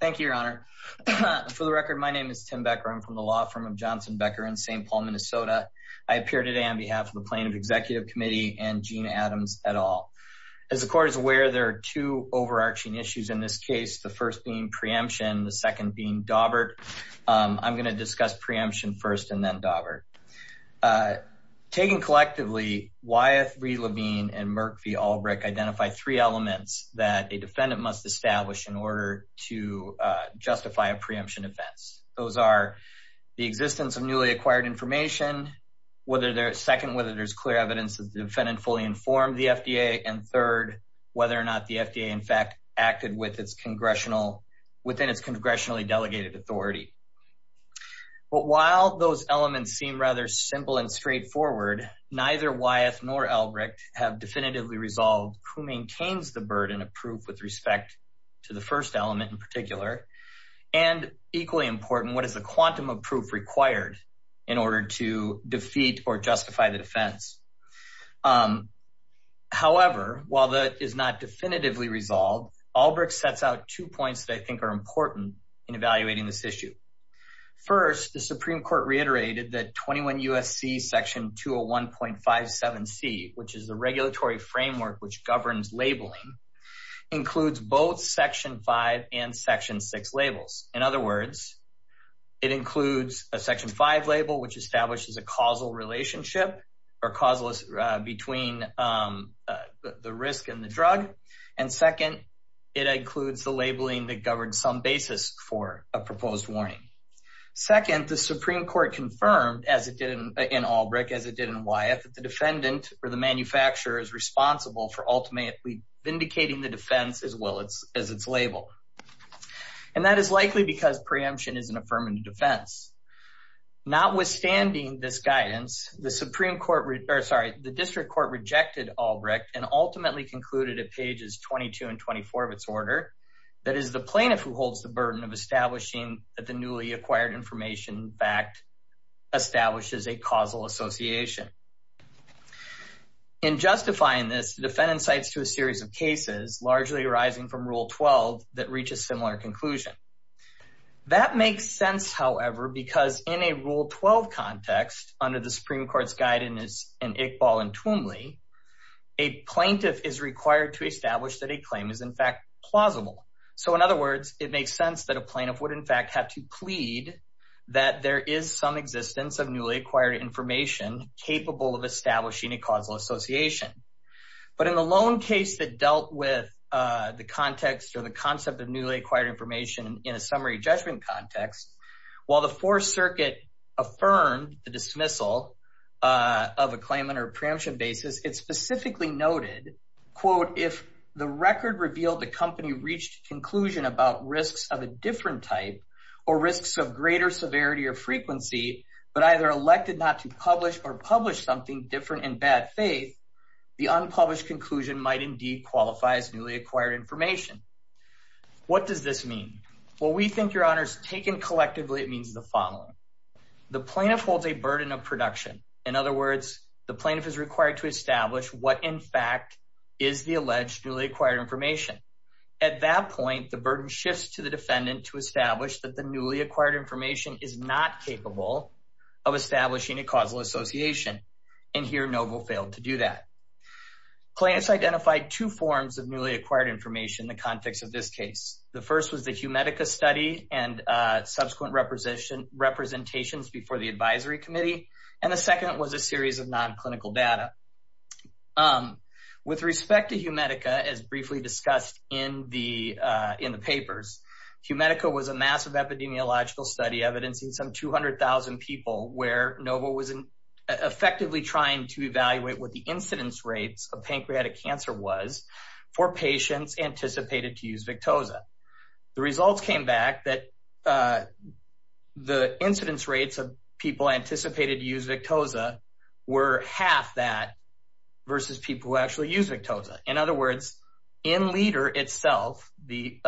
Thank you, Your Honor. For the record, my name is Tim Becker. I'm from the law firm of Johnson Becker in St. Paul, Minnesota. I appear today on behalf of the Plaintiff Executive Committee and Gina Adams et al. As the court is aware, there are two overarching issues in this case, the first being preemption, the second being Dawbert. I'm going to discuss preemption first and then Dawbert. Taken collectively, Wyeth v. Levine and Merck v. Albrecht identify three elements that a defendant must establish in order to justify a preemption offense. Those are the existence of newly acquired information, second, whether there's clear evidence that the defendant fully informed the FDA, and third, whether or not the FDA, in fact, acted within its congressionally delegated authority. But while those elements seem rather simple and straightforward, neither Wyeth nor Albrecht have proof with respect to the first element in particular. And equally important, what is the quantum of proof required in order to defeat or justify the defense? However, while that is not definitively resolved, Albrecht sets out two points that I think are important in evaluating this issue. First, the Supreme Court reiterated that 21 U.S.C. section 201.57c, which is the regulatory framework which governs labeling, includes both section 5 and section 6 labels. In other words, it includes a section 5 label which establishes a causal relationship or causeless between the risk and the drug, and second, it includes the labeling that governs some basis for a proposed warning. Second, the Supreme Court confirmed, as it did in Albrecht, as it did in Wyeth, that the defendant or the manufacturer is responsible for ultimately vindicating the defense as well as its label. And that is likely because preemption is an affirmative defense. Notwithstanding this guidance, the Supreme Court, or sorry, the District Court rejected Albrecht and ultimately concluded at pages 22 and 24 of its order, that it is the plaintiff who holds the burden of establishing that the newly acquired information in fact establishes a causal association. In justifying this, the defendant cites to a series of cases, largely arising from Rule 12, that reach a similar conclusion. That makes sense, however, because in a Rule 12 context, under the Supreme Court's guidance in Iqbal and Twombly, a plaintiff is required to establish that a claim is in fact plausible. So in other words, it makes sense that a plaintiff would in fact have to plead that there is some existence of newly acquired information capable of establishing a causal association. But in the loan case that dealt with the context or the concept of newly acquired information in a summary judgment context, while the Fourth Circuit affirmed the dismissal of a claimant or preemption basis, it specifically noted, quote, if the record revealed the company reached conclusion about risks of a different type or risks of greater severity or frequency, but either elected not to publish or publish something different in bad faith, the unpublished conclusion might indeed qualify as newly acquired information. What does this mean? Well, we think, Your Honors, taken collectively, it means the following. The plaintiff holds a burden of production. In other words, the plaintiff is required to establish what in fact is the alleged newly acquired information. At that point, the burden shifts to the defendant to establish that the newly acquired information is not capable of establishing a causal association. And here, Novo failed to do that. Plaintiffs identified two forms of newly acquired information in the context of this case. The first was the Humedica study and subsequent representations before the series of non-clinical data. With respect to Humedica, as briefly discussed in the papers, Humedica was a massive epidemiological study evidencing some 200,000 people where Novo was effectively trying to evaluate what the incidence rates of pancreatic cancer was for patients anticipated to use Victoza. The results came back that the incidence rates of anticipated to use Victoza were half that versus people who actually used Victoza. In other words, in Leder itself, the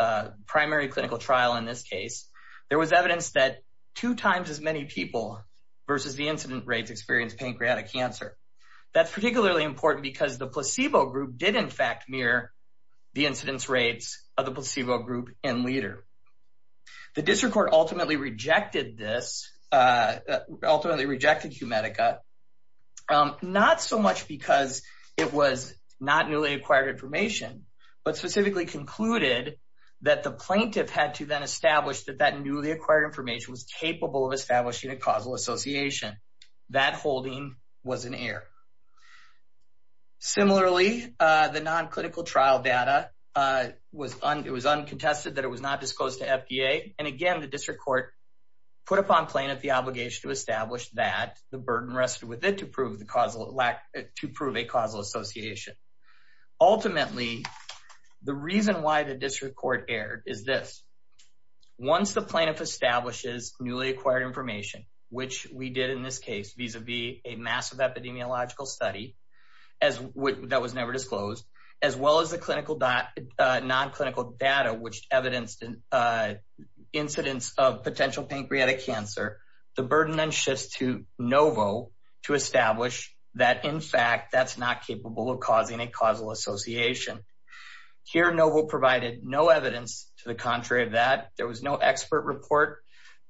primary clinical trial in this case, there was evidence that two times as many people versus the incidence rates experienced pancreatic cancer. That's particularly important because the placebo group did in fact mirror the incidence rates of the placebo group in Leder. The district court ultimately rejected this, ultimately rejected Humedica, not so much because it was not newly acquired information, but specifically concluded that the plaintiff had to then establish that that newly acquired information was capable of establishing a causal association. That holding was an error. Similarly, the non-clinical trial data, it was uncontested that it was not disclosed to FDA. Again, the district court put upon plaintiff the obligation to establish that the burden rested with it to prove a causal association. Ultimately, the reason why the district court erred is this. Once the plaintiff establishes newly acquired information, which we did in this case vis-a-vis a massive epidemiological study that was never disclosed, as well as the non-clinical data, which evidenced incidence of potential pancreatic cancer, the burden then shifts to NOVO to establish that, in fact, that's not capable of causing a causal association. Here, NOVO provided no evidence to the contrary of that. There was no expert report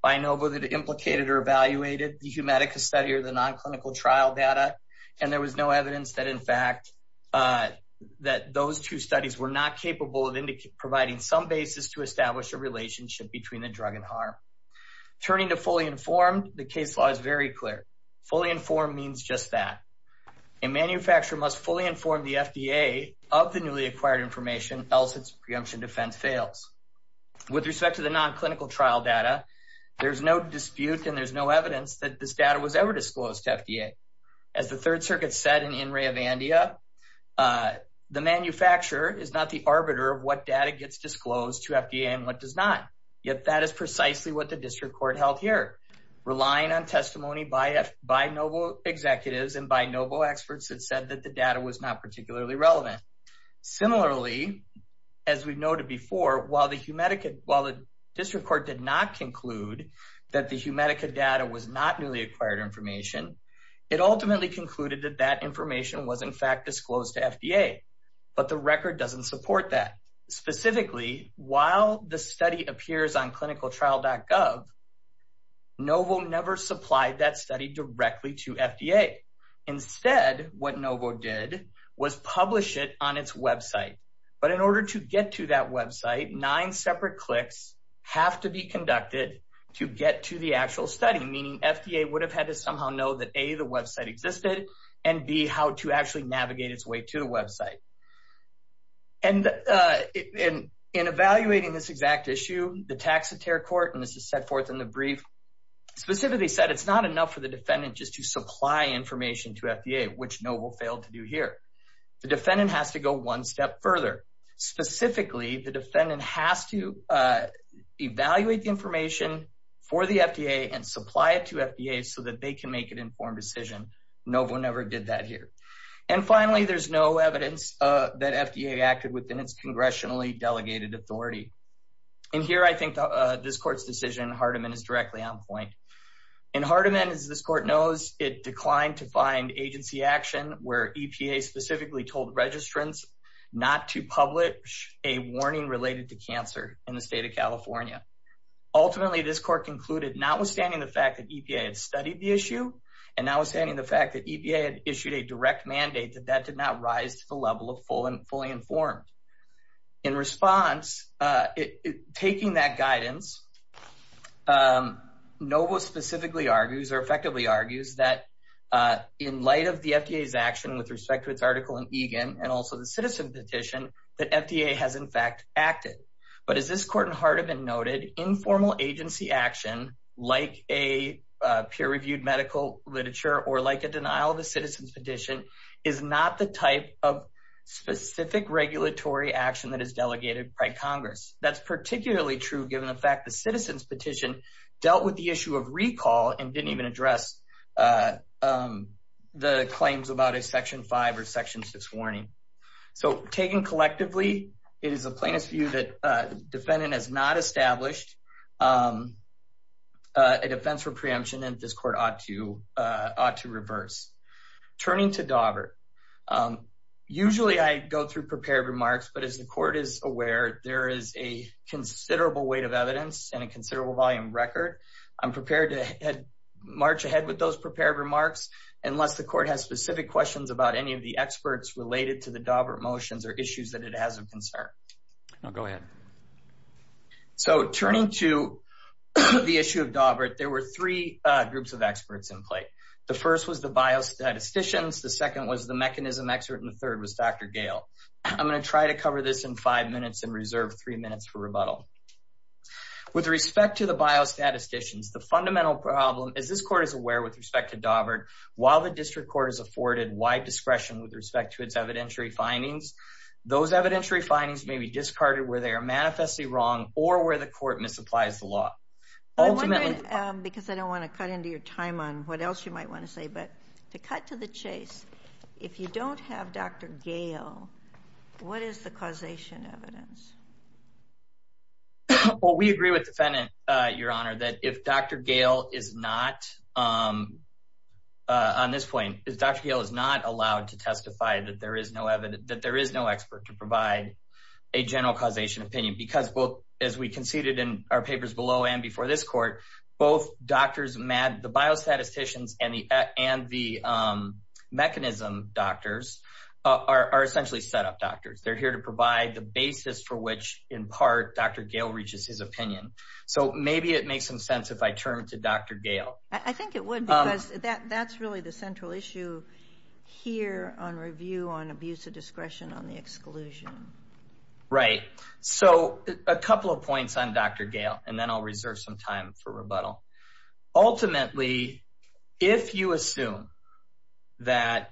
by NOVO that implicated or evaluated the Humedica study or the non-clinical trial data, and there was no evidence that, in fact, that those two studies were not capable of providing some basis to establish a relationship between the drug and harm. Turning to fully informed, the case law is very clear. Fully informed means just that. A manufacturer must fully inform the FDA of the newly acquired information else its preemption defense fails. With respect to the non-clinical trial data, there's no dispute and there's no evidence that this data was ever disclosed to FDA. As the Third Circuit said in Ray of Andia, the manufacturer is not the arbiter of what data gets disclosed to FDA and what does not, yet that is precisely what the district court held here, relying on testimony by NOVO executives and by NOVO experts that said that the data was not particularly relevant. Similarly, as we noted before, while the district court did not conclude that the Humedica data was not newly acquired information, it ultimately concluded that that information was, in fact, disclosed to FDA, but the record doesn't support that. Specifically, while the study appears on clinicaltrial.gov, NOVO never supplied that study directly to FDA. Instead, what NOVO did was publish it on its website, but in order to get to that website, nine separate clicks have to be conducted to get to the actual study, meaning FDA would have had to somehow know that A, the website existed, and B, how to actually navigate its way to the website. In evaluating this exact issue, the Taxotere Court, and this is set forth in the brief, specifically said it's not enough for the defendant just to supply information to FDA, which NOVO failed to do here. The defendant has to go one step further. Specifically, the defendant has to evaluate the information for the FDA and supply it to FDA so that they can make an informed decision. NOVO never did that here. And finally, there's no evidence that FDA acted within its congressionally delegated authority. And here, I think this court's decision, Hardiman, is directly to the standpoint. In Hardiman, as this court knows, it declined to find agency action where EPA specifically told registrants not to publish a warning related to cancer in the state of California. Ultimately, this court concluded, notwithstanding the fact that EPA had studied the issue, and notwithstanding the fact that EPA had issued a direct mandate, that that did not rise to the level of fully informed. In response, taking that guidance, NOVO specifically argues, or effectively argues, that in light of the FDA's action with respect to its article in EGAN, and also the citizen petition, that FDA has in fact acted. But as this court in Hardiman noted, informal agency action, like a peer-reviewed medical literature, or like a denial of a citizen's petition, is not the type of specific regulatory action that is delegated by Congress. That's particularly true given the fact the citizen's petition dealt with the issue of recall, and didn't even address the claims about a section 5 or section 6 warning. So taken collectively, it is a plaintiff's view that defendant has not established a defense for preemption, and this court ought to reverse. Turning to Dawbert, usually I go through prepared remarks, but as the court is aware, there is a considerable weight of evidence and a considerable volume record. I'm prepared to march ahead with those prepared remarks, unless the court has specific questions about any of the experts related to the Dawbert motions or issues that it has of concern. So turning to the issue of Dawbert, there were three groups of experts in play. The first was the biostatisticians, the second was the mechanism expert, and the third was Dr. Gale. I'm going to try to cover this in five minutes and reserve three minutes for rebuttal. With respect to the biostatisticians, the fundamental problem is this court is aware with respect to Dawbert, while the district court is afforded wide discretion with respect to its evidentiary findings, those evidentiary findings may be discarded where they are manifestly wrong or where the court misapplies the law. Because I don't want to cut into your time on what else you might want to say, but to cut to the chase, if you don't have Dr. Gale, what is the causation evidence? Well, we agree with the defendant, Your Honor, that if Dr. Gale is not, on this point, Dr. Gale is not allowed to testify that there is no expert to provide a general causation opinion because, as we conceded in our papers below and before this court, both the biostatisticians and the mechanism doctors are essentially set-up doctors. They're here to provide the basis for which, in part, Dr. Gale reaches his opinion. So maybe it makes some sense if I turn to Dr. Gale. I think it would because that's really the central issue here on review on abuse of discretion on the exclusion. Right. So a couple of points on Dr. Gale, and then I'll reserve some time for rebuttal. Ultimately, if you assume that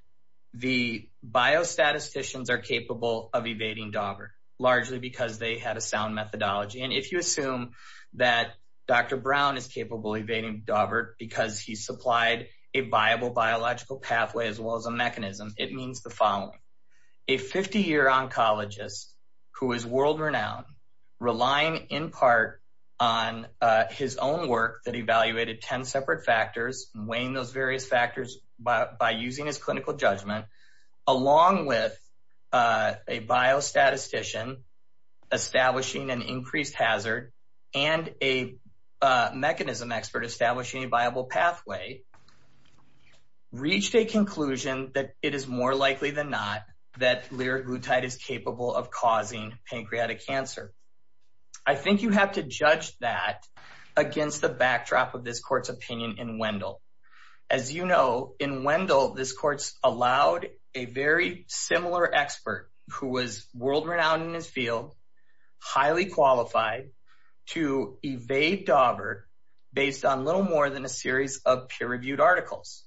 the biostatisticians are capable of evading Daubert, largely because they had a sound methodology, and if you assume that Dr. Brown is capable of Daubert because he supplied a viable biological pathway as well as a mechanism, it means the following. A 50-year oncologist who is world-renowned, relying in part on his own work that evaluated 10 separate factors, weighing those various factors by using his clinical judgment, along with a biostatistician establishing an increased hazard and a mechanism expert establishing a viable pathway, reached a conclusion that it is more likely than not that lyriglutide is capable of causing pancreatic cancer. I think you have to judge that against the backdrop of this court's opinion in Wendell. As you know, in Wendell, this court allowed a very similar expert who was world-renowned in his field, highly qualified, to evade Daubert based on little more than a series of peer-reviewed articles.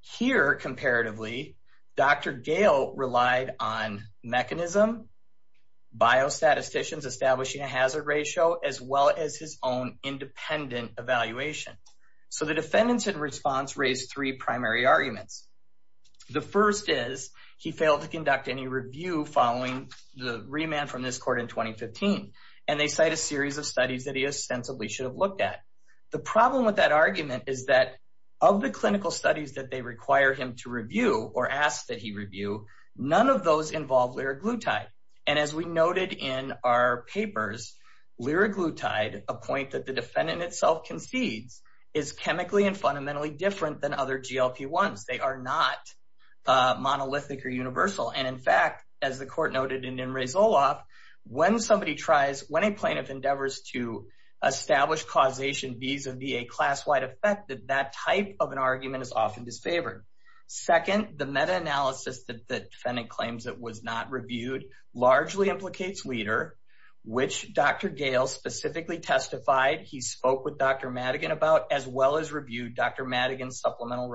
Here, comparatively, Dr. Gale relied on mechanism, biostatisticians establishing a hazard ratio, as well as his own independent evaluation. So the defendants in response raised three primary arguments. The first is he failed to conduct any review following the remand from this court in studies that he ostensibly should have looked at. The problem with that argument is that of the clinical studies that they require him to review or ask that he review, none of those involve lyriglutide. As we noted in our papers, lyriglutide, a point that the defendant itself concedes, is chemically and fundamentally different than other GLP-1s. They are not monolithic or universal. In fact, as the court noted in Rezolov, when a plaintiff endeavors to establish causation vis-a-vis a class-wide effect, that type of an argument is often disfavored. Second, the meta-analysis that the defendant claims that was not reviewed largely implicates leader, which Dr. Gale specifically testified he spoke with Dr. Madigan about, as well as reviewed Dr. Madigan. So in other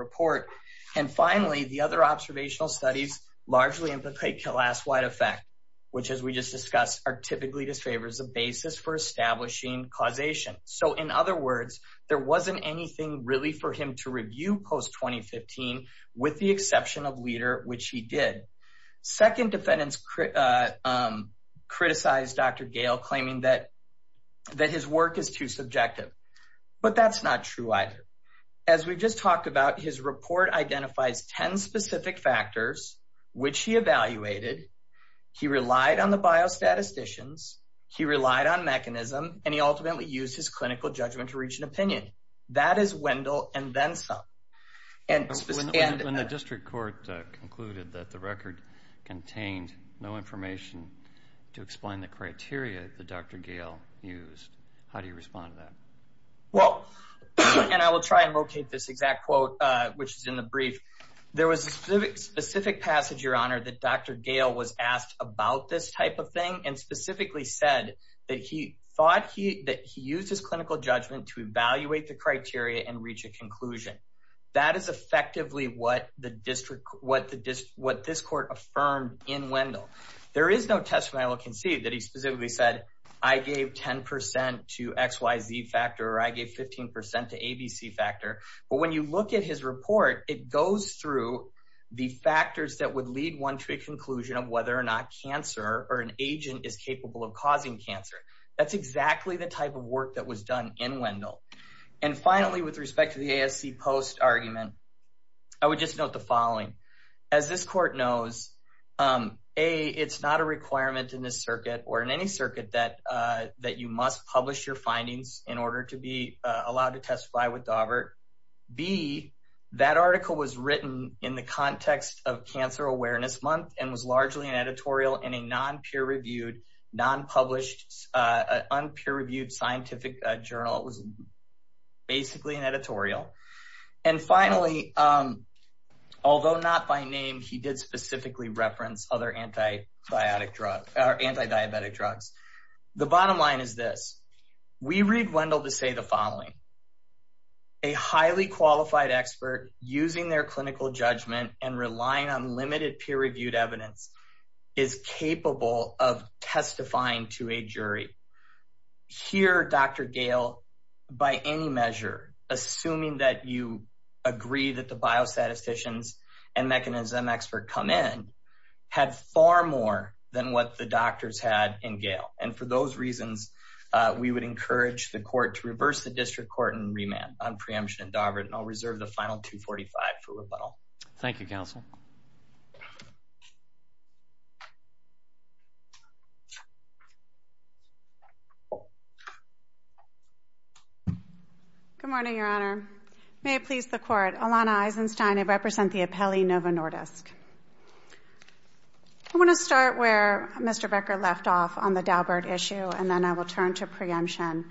words, there wasn't anything really for him to review post-2015 with the exception of leader, which he did. Second defendants criticized Dr. Gale claiming that his work is too subjective, but that's not true either. As we've just talked about, his report identifies 10 specific factors, which he evaluated, he relied on the biostatisticians, he relied on mechanism, and he ultimately used his clinical judgment to reach an opinion. That is Wendell and then some. When the district court concluded that the record contained no information to explain the criteria that Dr. Gale used, how do you respond to that? Well, and I will try and locate this exact quote, which is in the brief. There was a specific passage, your honor, that Dr. Gale was asked about this type of thing and specifically said that he thought he used his clinical judgment to evaluate the criteria and reach a conclusion. That is effectively what this court affirmed in Wendell. There is no testimony I will concede that he specifically said, I gave 10% to XYZ factor or I gave 15% to ABC factor. But when you look at his report, it goes through the factors that would lead one to a conclusion of whether or not cancer or an agent is capable of causing cancer. That's exactly the type of work that was done in Wendell. And finally, with respect to the ASC post argument, I would just note the following. As this court knows, A, it's not a requirement in this circuit or in any circuit that you must publish your findings in order to be allowed to testify with Daubert. B, that article was written in the context of Cancer Awareness Month and was largely an editorial in a non-peer-reviewed, non-published, un-peer-reviewed scientific journal. It was basically an editorial. And finally, although not by name, he did specifically reference other anti-diabetic drugs. The bottom line is this. We read Wendell to say the following, a highly qualified expert using their clinical judgment and relying on limited peer-reviewed evidence is capable of testifying to a jury. Here, Dr. Gayle, by any measure, assuming that you agree that the biostatisticians and mechanism expert come in, had far more than what the doctors had in Gayle. And for those reasons, we would encourage the court to reverse the district court and remand on preemption in Daubert. And I'll reserve the final 245 for rebuttal. Thank you, counsel. Good morning, Your Honor. May it please the court, Alana Eisenstein. I represent the appellee, Nova Nordisk. I want to start where Mr. Becker left off on the Daubert issue, and then I will turn to preemption.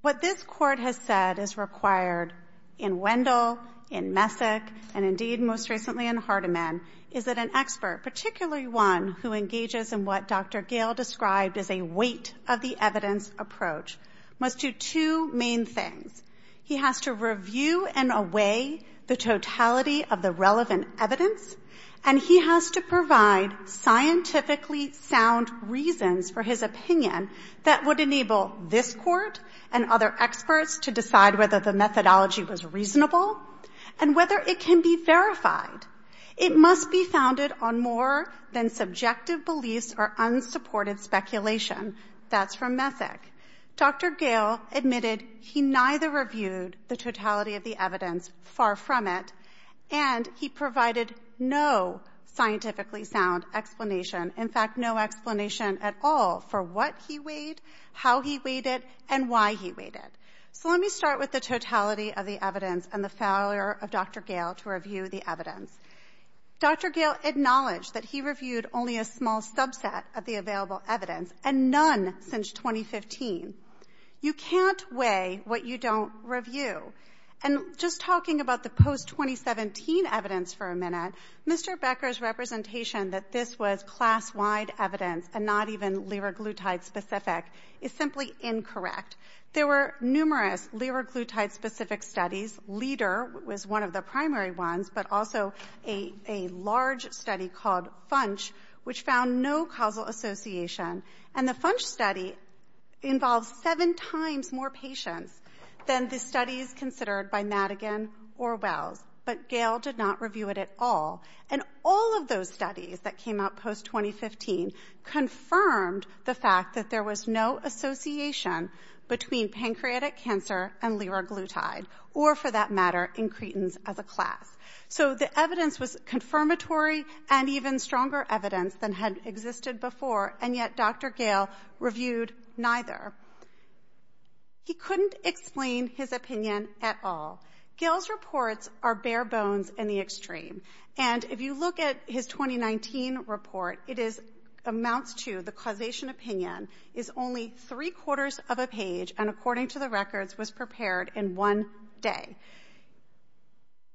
What this court has said is required in Wendell, in Messick, and indeed most recently in Hardiman, is that an expert, particularly one who engages in what Dr. Gayle described as a weight of the evidence approach, must do two main things. He has to review in a way the totality of the relevant evidence, and he has to provide scientifically sound reasons for his opinion that would enable this court and other experts to decide whether the methodology was reasonable and whether it can be verified. It must be founded on more than subjective beliefs or unsupported speculation. That's from Messick. Dr. Gayle admitted he neither reviewed the totality of the evidence, far from it, and he provided no scientifically sound explanation, in fact, no explanation at all for what he weighed, how he weighed it, and why he weighed it. So let me start with the totality of the evidence and the failure of Dr. Gayle to review the evidence. Dr. Gayle acknowledged that he reviewed only a small subset of the available evidence, and none since 2015. You can't weigh what you don't review. And just talking about the post-2017 evidence for a minute, Mr. Becker's representation that this was class-wide evidence and not even liraglutide-specific is simply incorrect. There were numerous liraglutide-specific studies. LIDER was one of the primary ones, but also a large study called FUNCH, which found no causal association. And the FUNCH study involved seven times more patients than the studies considered by Madigan or Wells. But Gayle did not review it at all. And all of those studies that came out post-2015 confirmed the fact that there was no association between pancreatic cancer and liraglutide, or for that matter, in Cretins as a class. So the evidence was confirmatory and even stronger evidence than had existed before, and yet Dr. Gayle reviewed neither. He couldn't explain his And if you look at his 2019 report, it is amounts to the causation opinion is only three-quarters of a page, and according to the records, was prepared in one day.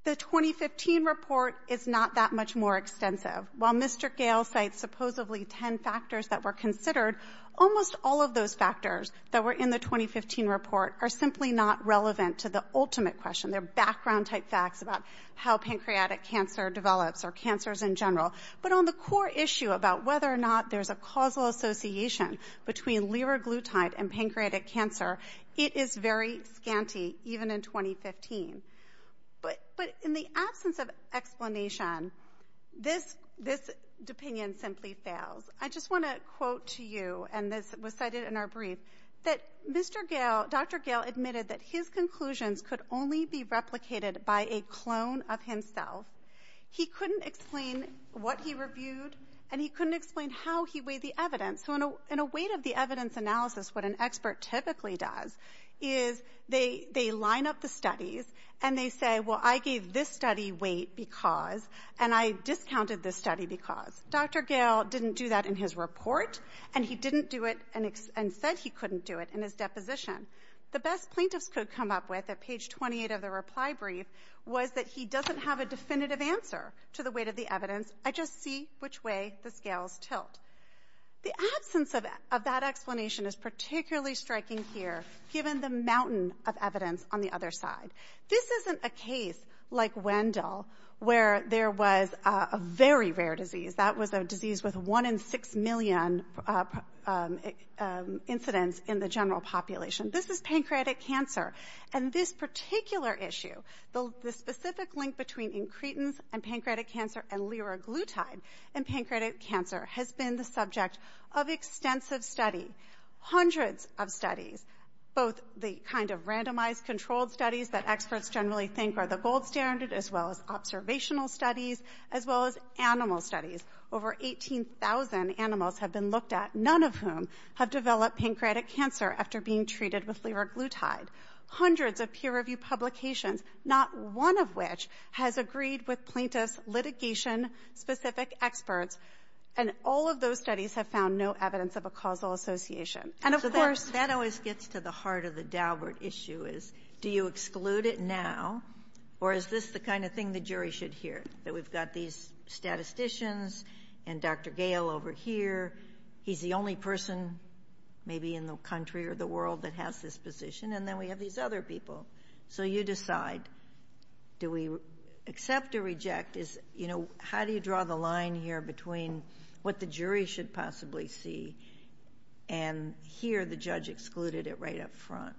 The 2015 report is not that much more extensive. While Mr. Gayle cites supposedly ten factors that were considered, almost all of those factors that were in the 2015 report are simply not relevant to the ultimate question. They're background-type facts about how pancreatic cancer develops or cancers in general. But on the core issue about whether or not there's a causal association between liraglutide and pancreatic cancer, it is very scanty, even in 2015. But in the absence of explanation, this opinion simply fails. I just want to quote to you, and this was cited in our brief, that Mr. Gayle, Dr. Gayle admitted that his conclusions could only be replicated by a clone of himself. He couldn't explain what he reviewed, and he couldn't explain how he weighed the evidence. So in a weight of the evidence analysis, what an expert typically does is they line up the studies, and they say, well, I gave this study weight because, and I discounted this study because. Dr. Gayle didn't do that in his report, and he didn't do it and said he couldn't do it in his deposition. The best plaintiffs could come up with at page 28 of the reply brief was that he doesn't have a definitive answer to the weight of the evidence. I just see which way the scales tilt. The absence of that explanation is particularly striking here, given the mountain of evidence on the other side. This isn't a case like Wendell, where there was a very rare disease. That was a disease with one in six million incidents in the general population. This is pancreatic cancer, and this particular issue, the specific link between incretins and pancreatic cancer and liraglutide and pancreatic cancer has been the subject of extensive study, hundreds of studies, both the kind of randomized controlled studies that experts generally think are the as well as observational studies, as well as animal studies. Over 18,000 animals have been looked at, none of whom have developed pancreatic cancer after being treated with liraglutide. Hundreds of peer-reviewed publications, not one of which has agreed with plaintiffs' litigation-specific experts, and all of those studies have found no evidence of a causal association. And, of course — So, do we exclude it now, or is this the kind of thing the jury should hear, that we've got these statisticians and Dr. Gale over here, he's the only person maybe in the country or the world that has this position, and then we have these other people. So you decide, do we accept or reject? You know, how do you draw the line here between what the jury should possibly see and hear the judge excluded it right up front?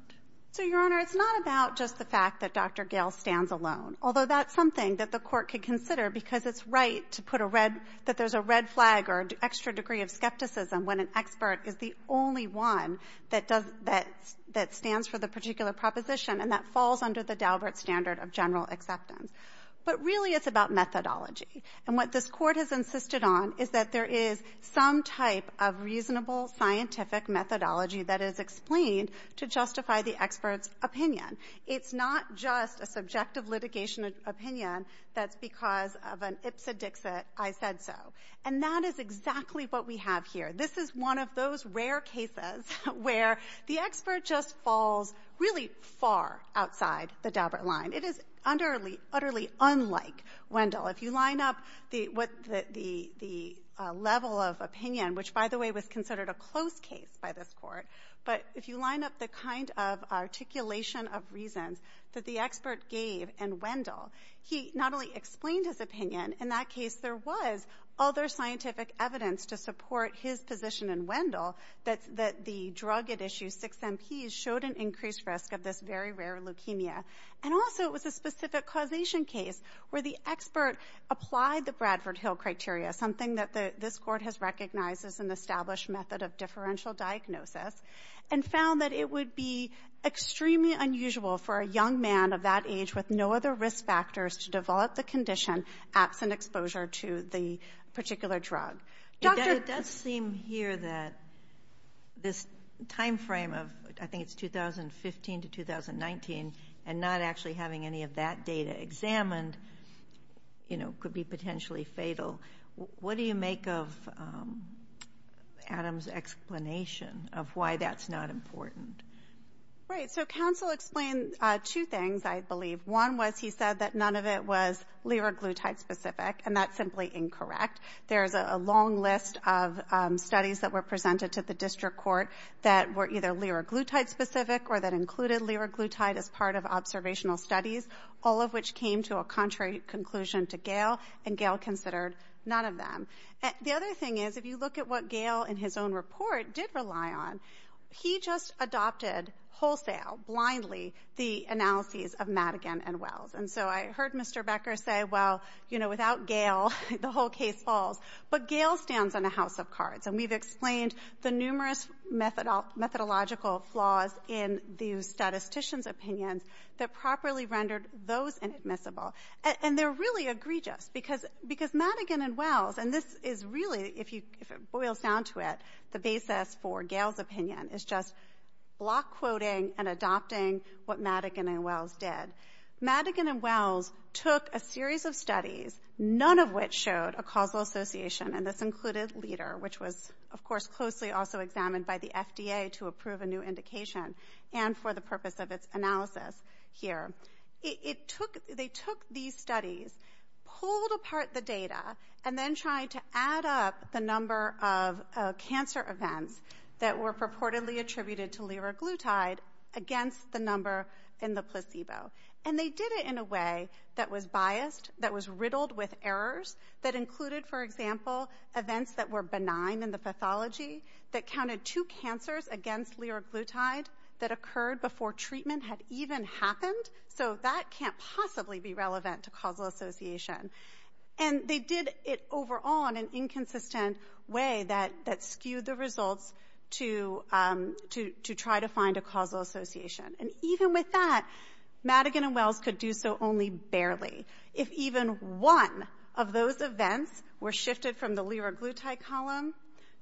So, Your Honor, it's not about just the fact that Dr. Gale stands alone, although that's something that the Court could consider because it's right to put a red — that there's a red flag or an extra degree of skepticism when an expert is the only one that does — that stands for the particular proposition and that falls under the Daubert standard of general acceptance. But really, it's about methodology. And what this Court has insisted on is that there is some type of reasonable scientific methodology that is explained to justify the expert's opinion. It's not just a subjective litigation opinion that's because of an ipsa dixit, I said so. And that is exactly what we have here. This is one of those rare cases where the expert just falls really far outside the Daubert line. It is utterly unlike Wendell. If you line up the level of But if you line up the kind of articulation of reasons that the expert gave in Wendell, he not only explained his opinion — in that case, there was other scientific evidence to support his position in Wendell — that the drug at issue, 6-MP, showed an increased risk of this very rare leukemia. And also, it was a specific causation case where the expert applied the Bradford-Hill criteria, something that this Court has recognized as an established method of differential diagnosis, and found that it would be extremely unusual for a young man of that age with no other risk factors to develop the condition absent exposure to the particular drug. It does seem here that this time frame of — I think it's 2015 to 2019 — and not actually having any of that data examined, you know, could be potentially fatal. What do you make of Adam's explanation of why that's not important? Right. So, counsel explained two things, I believe. One was he said that none of it was liraglutide-specific, and that's simply incorrect. There's a long list of studies that were presented to the District Court that were either liraglutide-specific or that included liraglutide as part of observational studies, all of which came to a contrary conclusion to Gail, and Gail considered none of them. The other thing is, if you look at what Gail in his own report did rely on, he just adopted wholesale, blindly, the analyses of Madigan and Wells. And so I heard Mr. Becker say, well, you know, without Gail, the whole case falls. But Gail stands on a house of cards, and we've explained the numerous methodological flaws in the statistician's opinions that properly rendered those inadmissible. And they're really egregious, because Madigan and Wells, and this is really, if it boils down to it, the basis for Gail's opinion is just block quoting and adopting what Madigan and Wells did. Madigan and Wells took a series of studies, none of which showed a causal association, and this included LIDER, which was, of course, closely also examined by the FDA to approve a new indication, and for the purpose of its analysis here. It took, they took a series of studies, pulled apart the data, and then tried to add up the number of cancer events that were purportedly attributed to liraglutide against the number in the placebo. And they did it in a way that was biased, that was riddled with errors, that included, for example, events that were benign in the pathology, that counted two cancers against liraglutide that occurred before treatment had even happened. So that can't possibly be relevant to causal association. And they did it overall in an inconsistent way that skewed the results to try to find a causal association. And even with that, Madigan and Wells could do so only barely. If even one of those events were shifted from the liraglutide column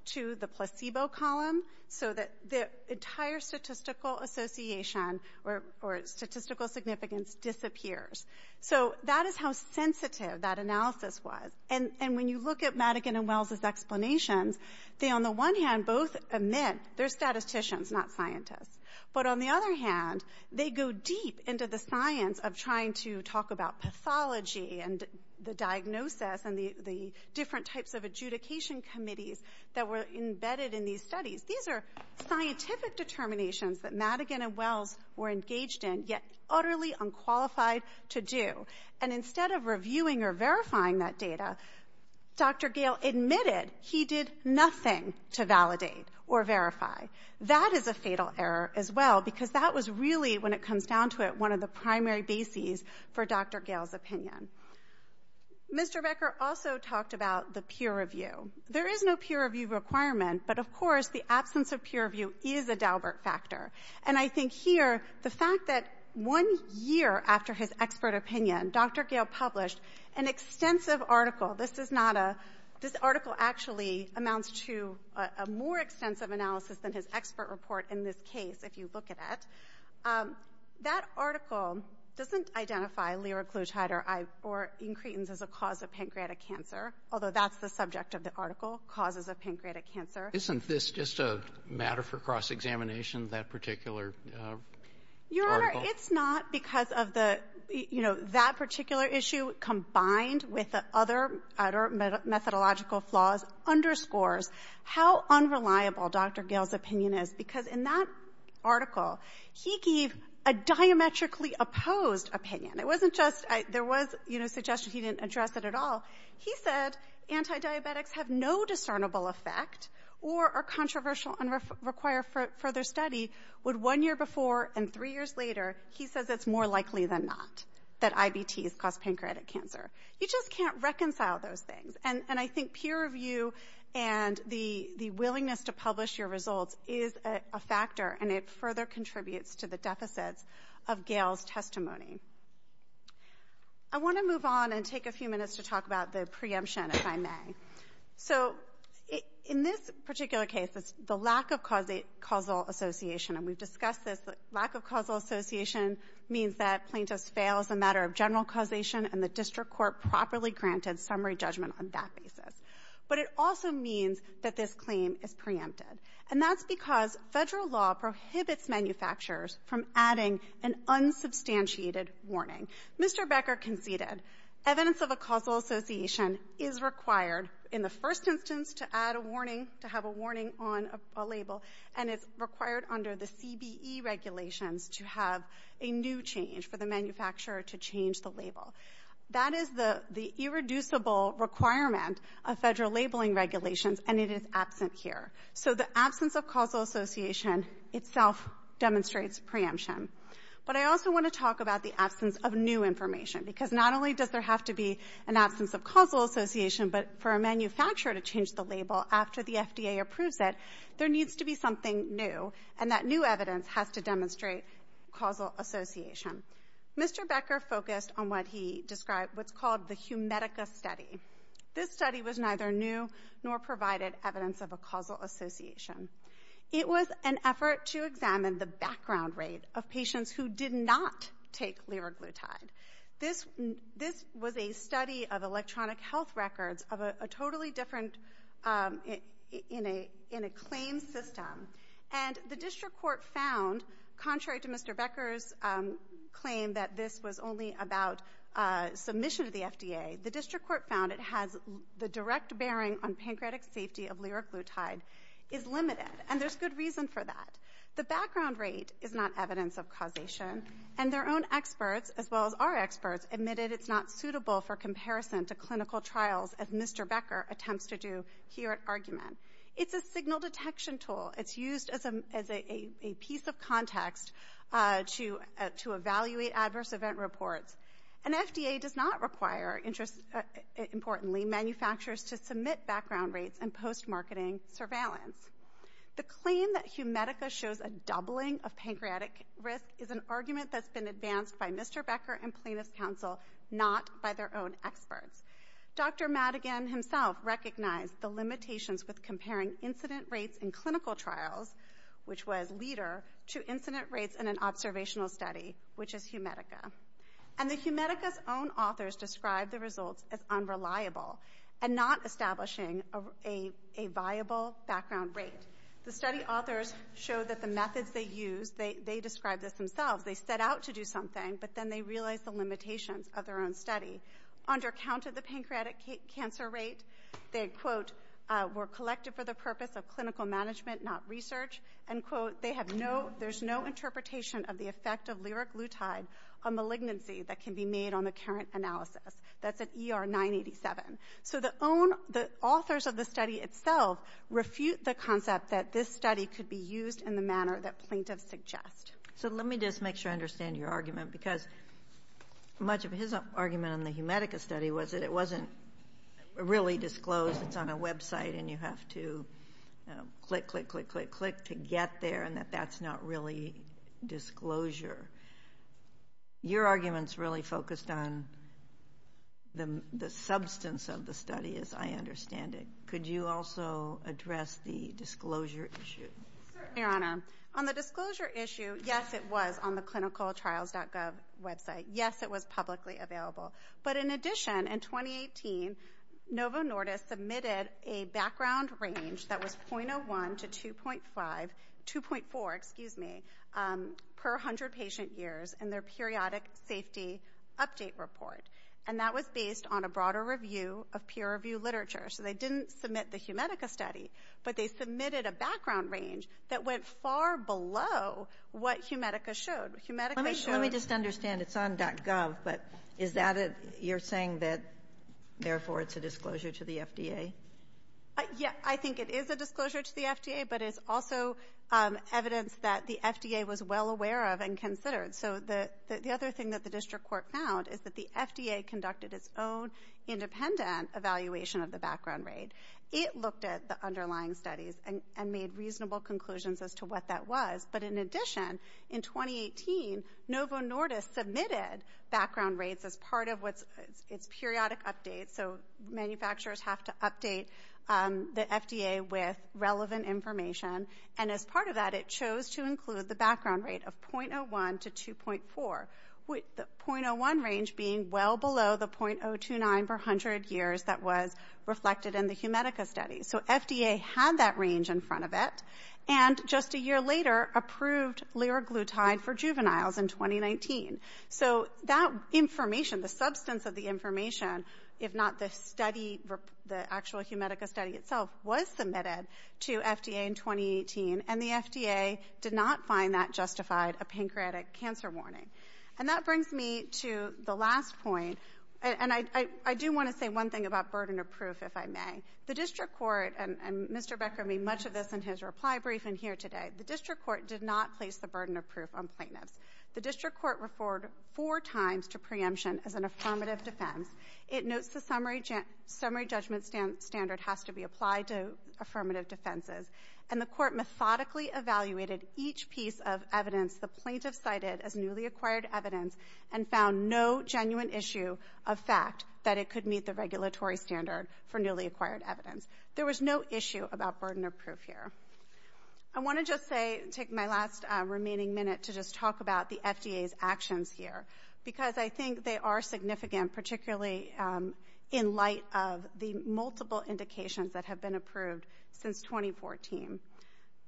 to the placebo column, so that the entire statistical association or statistical significance disappears. So that is how sensitive that analysis was. And when you look at Madigan and Wells' explanations, they on the one hand both admit they're statisticians, not scientists. But on the other hand, they go deep into the science of trying to talk about pathology and the diagnosis and the different types of adjudication committees that were embedded in these studies. These are scientific determinations that Madigan and Wells were engaged in, yet utterly unqualified to do. And instead of reviewing or verifying that data, Dr. Gale admitted he did nothing to validate or verify. That is a fatal error as well, because that was really, when it comes down to it, one of the primary bases for Dr. Gale's opinion. Mr. Becker also talked about the peer review. There is no peer review requirement, but of And here, the fact that one year after his expert opinion, Dr. Gale published an extensive article. This is not a, this article actually amounts to a more extensive analysis than his expert report in this case, if you look at it. That article doesn't identify liraglutide or incretins as a cause of pancreatic cancer, although that's the subject of the article, causes of pancreatic cancer. Isn't this just a matter for cross-examination, that particular article? Your Honor, it's not because of the, you know, that particular issue combined with other methodological flaws underscores how unreliable Dr. Gale's opinion is, because in that article, he gave a diametrically opposed opinion. It wasn't just, there was, you know, suggestion he didn't address it at all. He said antidiabetics have no discernible effect or are controversial and require further study. Would one year before and three years later, he says it's more likely than not that IBTs cause pancreatic cancer. You just can't reconcile those things, and I think peer review and the willingness to publish your results is a factor, and it further contributes to the deficits of Gale's testimony. I want to move on and take a few minutes to talk about the preemption, if I may. So in this particular case, it's the lack of causal association, and we've discussed this. The lack of causal association means that plaintiffs fail as a matter of general causation, and the district court properly granted summary judgment on that basis. But it also means that this claim is preempted, and that's because Federal law prohibits manufacturers from adding an unsubstantiated warning. Mr. Becker conceded evidence of a causal association is required in the first instance to add a warning, to have a warning on a label, and it's required under the CBE regulations to have a new change for the manufacturer to change the label. That is the irreducible requirement of Federal labeling regulations, and it is absent here. So the absence of causal association itself demonstrates preemption. But I also want to talk about the absence of new information, because not only does there have to be an absence of causal association, but for a manufacturer to change the label after the FDA approves it, there needs to be something new, and that new evidence has to demonstrate causal association. Mr. Becker focused on what he described, what's called the Humedica study. This study was neither new nor provided evidence of a causal association. It was an effort to examine the background rate of patients who did not take Leraglutide. This was a study of electronic health records of a totally different, in a claim system, and the District Court found, contrary to Mr. Becker's claim that this was only about submission to the FDA, the District bearing on pancreatic safety of Leraglutide is limited, and there's good reason for that. The background rate is not evidence of causation, and their own experts, as well as our experts, admitted it's not suitable for comparison to clinical trials as Mr. Becker attempts to do here at Argument. It's a signal detection tool. It's used as a piece of context to evaluate adverse event reports, and FDA does not require, importantly, manufacturers to submit background rates and post-marketing surveillance. The claim that Humedica shows a doubling of pancreatic risk is an argument that's been advanced by Mr. Becker and plaintiff's counsel, not by their own experts. Dr. Madigan himself recognized the limitations with comparing incident rates in clinical trials, which was a leader, to incident rates in an observational study, which is Humedica. And the Humedica's own authors described the results as unreliable, and not establishing a viable background rate. The study authors showed that the methods they used, they described this themselves, they set out to do something, but then they realized the limitations of their own study. Under count of the pancreatic cancer rate, they, quote, were collected for the purpose of clinical management, not research, and, quote, they have no, there's no interpretation of the effect of lyric lutein, a malignancy that can be made on the current analysis. That's at ER 987. So the authors of the study itself refute the concept that this study could be used in the manner that plaintiffs suggest. So let me just make sure I understand your argument, because much of his argument on the Humedica study was that it wasn't really disclosed, it's on a website, and you have to click, click, click, click, click to get there, and that that's not really disclosure. Your argument's really focused on the substance of the study, as I understand it. Could you also address the disclosure issue? Certainly, Your Honor. On the disclosure issue, yes, it was on the clinicaltrials.gov website. Yes, it was publicly available. But in addition, in 2018, Novo Nordisk submitted a background range that was .01 to 2.5, 2.4, excuse me, per 100 patient years in their periodic safety update report, and that was based on a broader review of peer review literature. So they didn't submit the Humedica study, but they submitted a background range that went far below what Humedica showed. Let me just understand, it's on .gov, but is that, you're saying that therefore it's a disclosure to the FDA? Yes, I think it is a disclosure to the FDA, but it's also evidence that the FDA was well aware of and considered. So the other thing that the district court found is that the FDA conducted its own independent evaluation of the background range. It looked at the underlying studies and made reasonable conclusions as to what that was. But in addition, in 2018, Novo Nordisk submitted background rates as part of its periodic updates, so manufacturers have to update the FDA with relevant information. And as part of that, it chose to include the background rate of .01 to 2.4, the .01 range being well below the .029 per 100 years that was reflected in the Humedica study. So FDA had that range in front of it, and just a few miles in 2019. So that information, the substance of the information, if not the study, the actual Humedica study itself, was submitted to FDA in 2018, and the FDA did not find that justified a pancreatic cancer warning. And that brings me to the last point, and I do want to say one thing about burden of proof, if I may. The district court, and Mr. Becker made much of this in his reply brief and here today, the district court did not place the The district court referred four times to preemption as an affirmative defense. It notes the summary judgment standard has to be applied to affirmative defenses. And the court methodically evaluated each piece of evidence the plaintiff cited as newly acquired evidence and found no genuine issue of fact that it could meet the regulatory standard for newly acquired evidence. There was no issue about burden of proof here. I want to just say, take my last remaining minute to just talk about the FDA's actions here, because I think they are significant, particularly in light of the multiple indications that have been approved since 2014.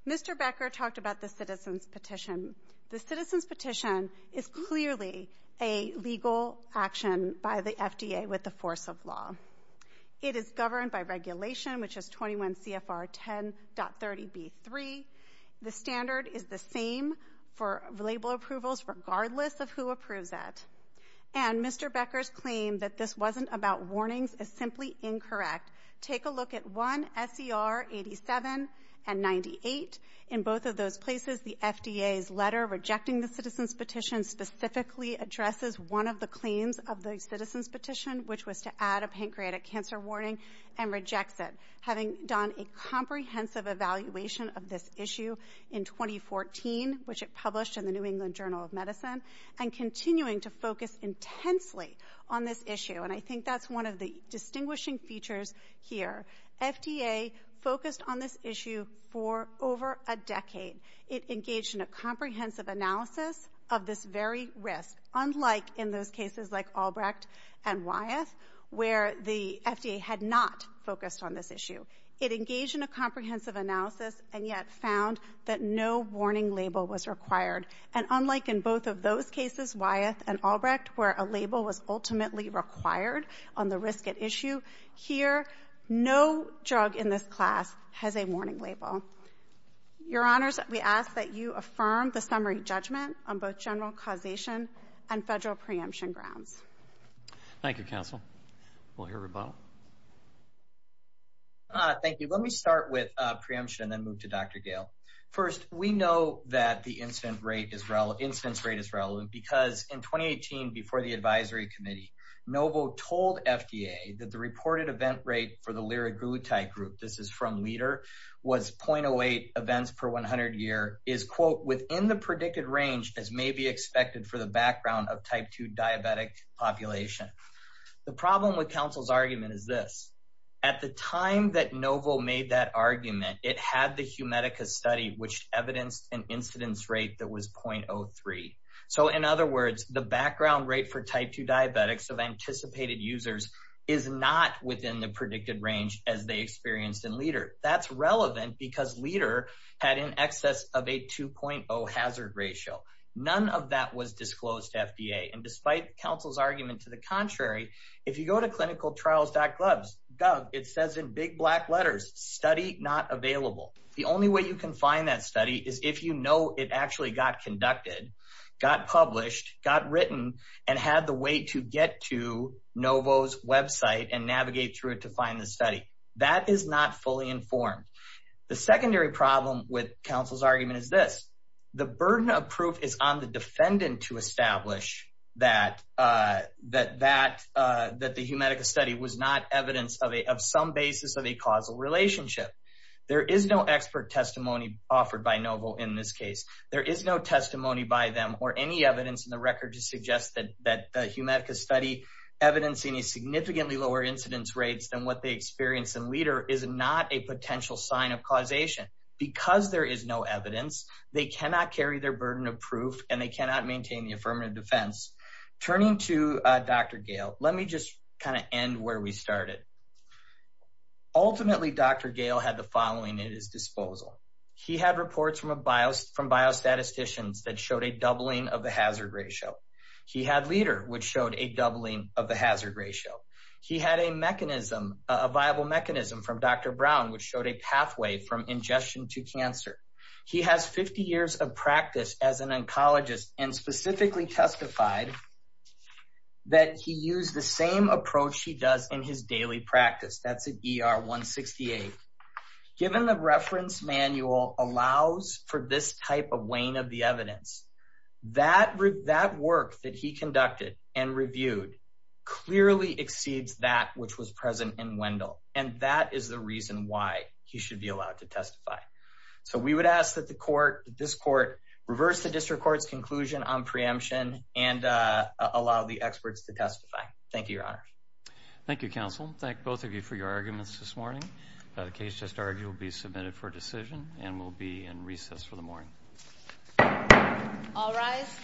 Mr. Becker talked about the citizen's petition. The citizen's petition is clearly a legal action by the FDA with the force of law. It is governed by regulation, which is 21 CFR 10.30B3. The standard is the same for label approvals regardless of who approves that. And Mr. Becker's claim that this wasn't about warnings is simply incorrect. Take a look at 1 SCR 87 and 98. In both of those places, the FDA's letter rejecting the citizen's petition specifically addresses one of the claims of the citizen's warning and rejects it, having done a comprehensive evaluation of this issue in 2014, which it published in the New England Journal of Medicine, and continuing to focus intensely on this issue. And I think that's one of the distinguishing features here. FDA focused on this issue for over a decade. It engaged in a comprehensive analysis of this very risk, unlike in those cases where it had not focused on this issue. It engaged in a comprehensive analysis and yet found that no warning label was required. And unlike in both of those cases, Wyeth and Albrecht, where a label was ultimately required on the risk at issue, here no drug in this class has a warning label. Your Honors, we ask that you affirm the summary judgment on both general causation and Federal preemption grounds. Thank you, Counsel. We'll hear a rebuttal. Thank you. Let me start with preemption and then move to Dr. Gale. First, we know that the incidence rate is relevant because in 2018, before the advisory committee, Novo told FDA that the reported event rate for the Liragutai group, this is from Leader, was 0.08 events per 100 year, is, quote, within the predicted range as may be expected for the background of type 2 diabetic population. The problem with Counsel's argument is this. At the time that Novo made that argument, it had the Humedica study, which evidenced an incidence rate that was 0.03. So, in other words, the background rate for type 2 diabetics of anticipated users is not within the predicted range as they experienced in Leader. That's And despite Counsel's argument to the contrary, if you go to clinicaltrials.gov, it says in big black letters, study not available. The only way you can find that study is if you know it actually got conducted, got published, got written, and had the way to get to Novo's website and navigate through it to find the study. That is not fully informed. The secondary problem with Counsel's argument is this. The burden of proof is on the defendant to establish that the Humedica study was not evidence of some basis of a causal relationship. There is no expert testimony offered by Novo in this case. There is no testimony by them or any evidence in the record to suggest that the Humedica study evidencing a significantly lower incidence rates than what they experienced in Leader is not a potential sign of causation. Because there is no evidence, they cannot carry their burden of proof and they cannot maintain the affirmative defense. Turning to Dr. Gale, let me just kind of end where we started. Ultimately, Dr. Gale had the following at his disposal. He had reports from biostatisticians that showed a doubling of the hazard ratio. He had Leader, which showed a doubling of the hazard ratio. He had a mechanism, a viable mechanism from Dr. Brown, which showed a pathway from ingestion to cancer. He has 50 years of practice as an oncologist and specifically testified that he used the same approach he does in his daily practice. That's an ER-168. Given the reference manual allows for this type of wane of the evidence, that work that he conducted and reviewed clearly exceeds that which was present in Wendell. And that is the reason why he should be allowed to testify. So we would ask that this court reverse the district court's conclusion on preemption and allow the experts to testify. Thank you, Your Honor. Thank you, counsel. Thank both of you for your arguments this morning. The case just argued will be submitted for decision and will be in recess for the morning. All rise.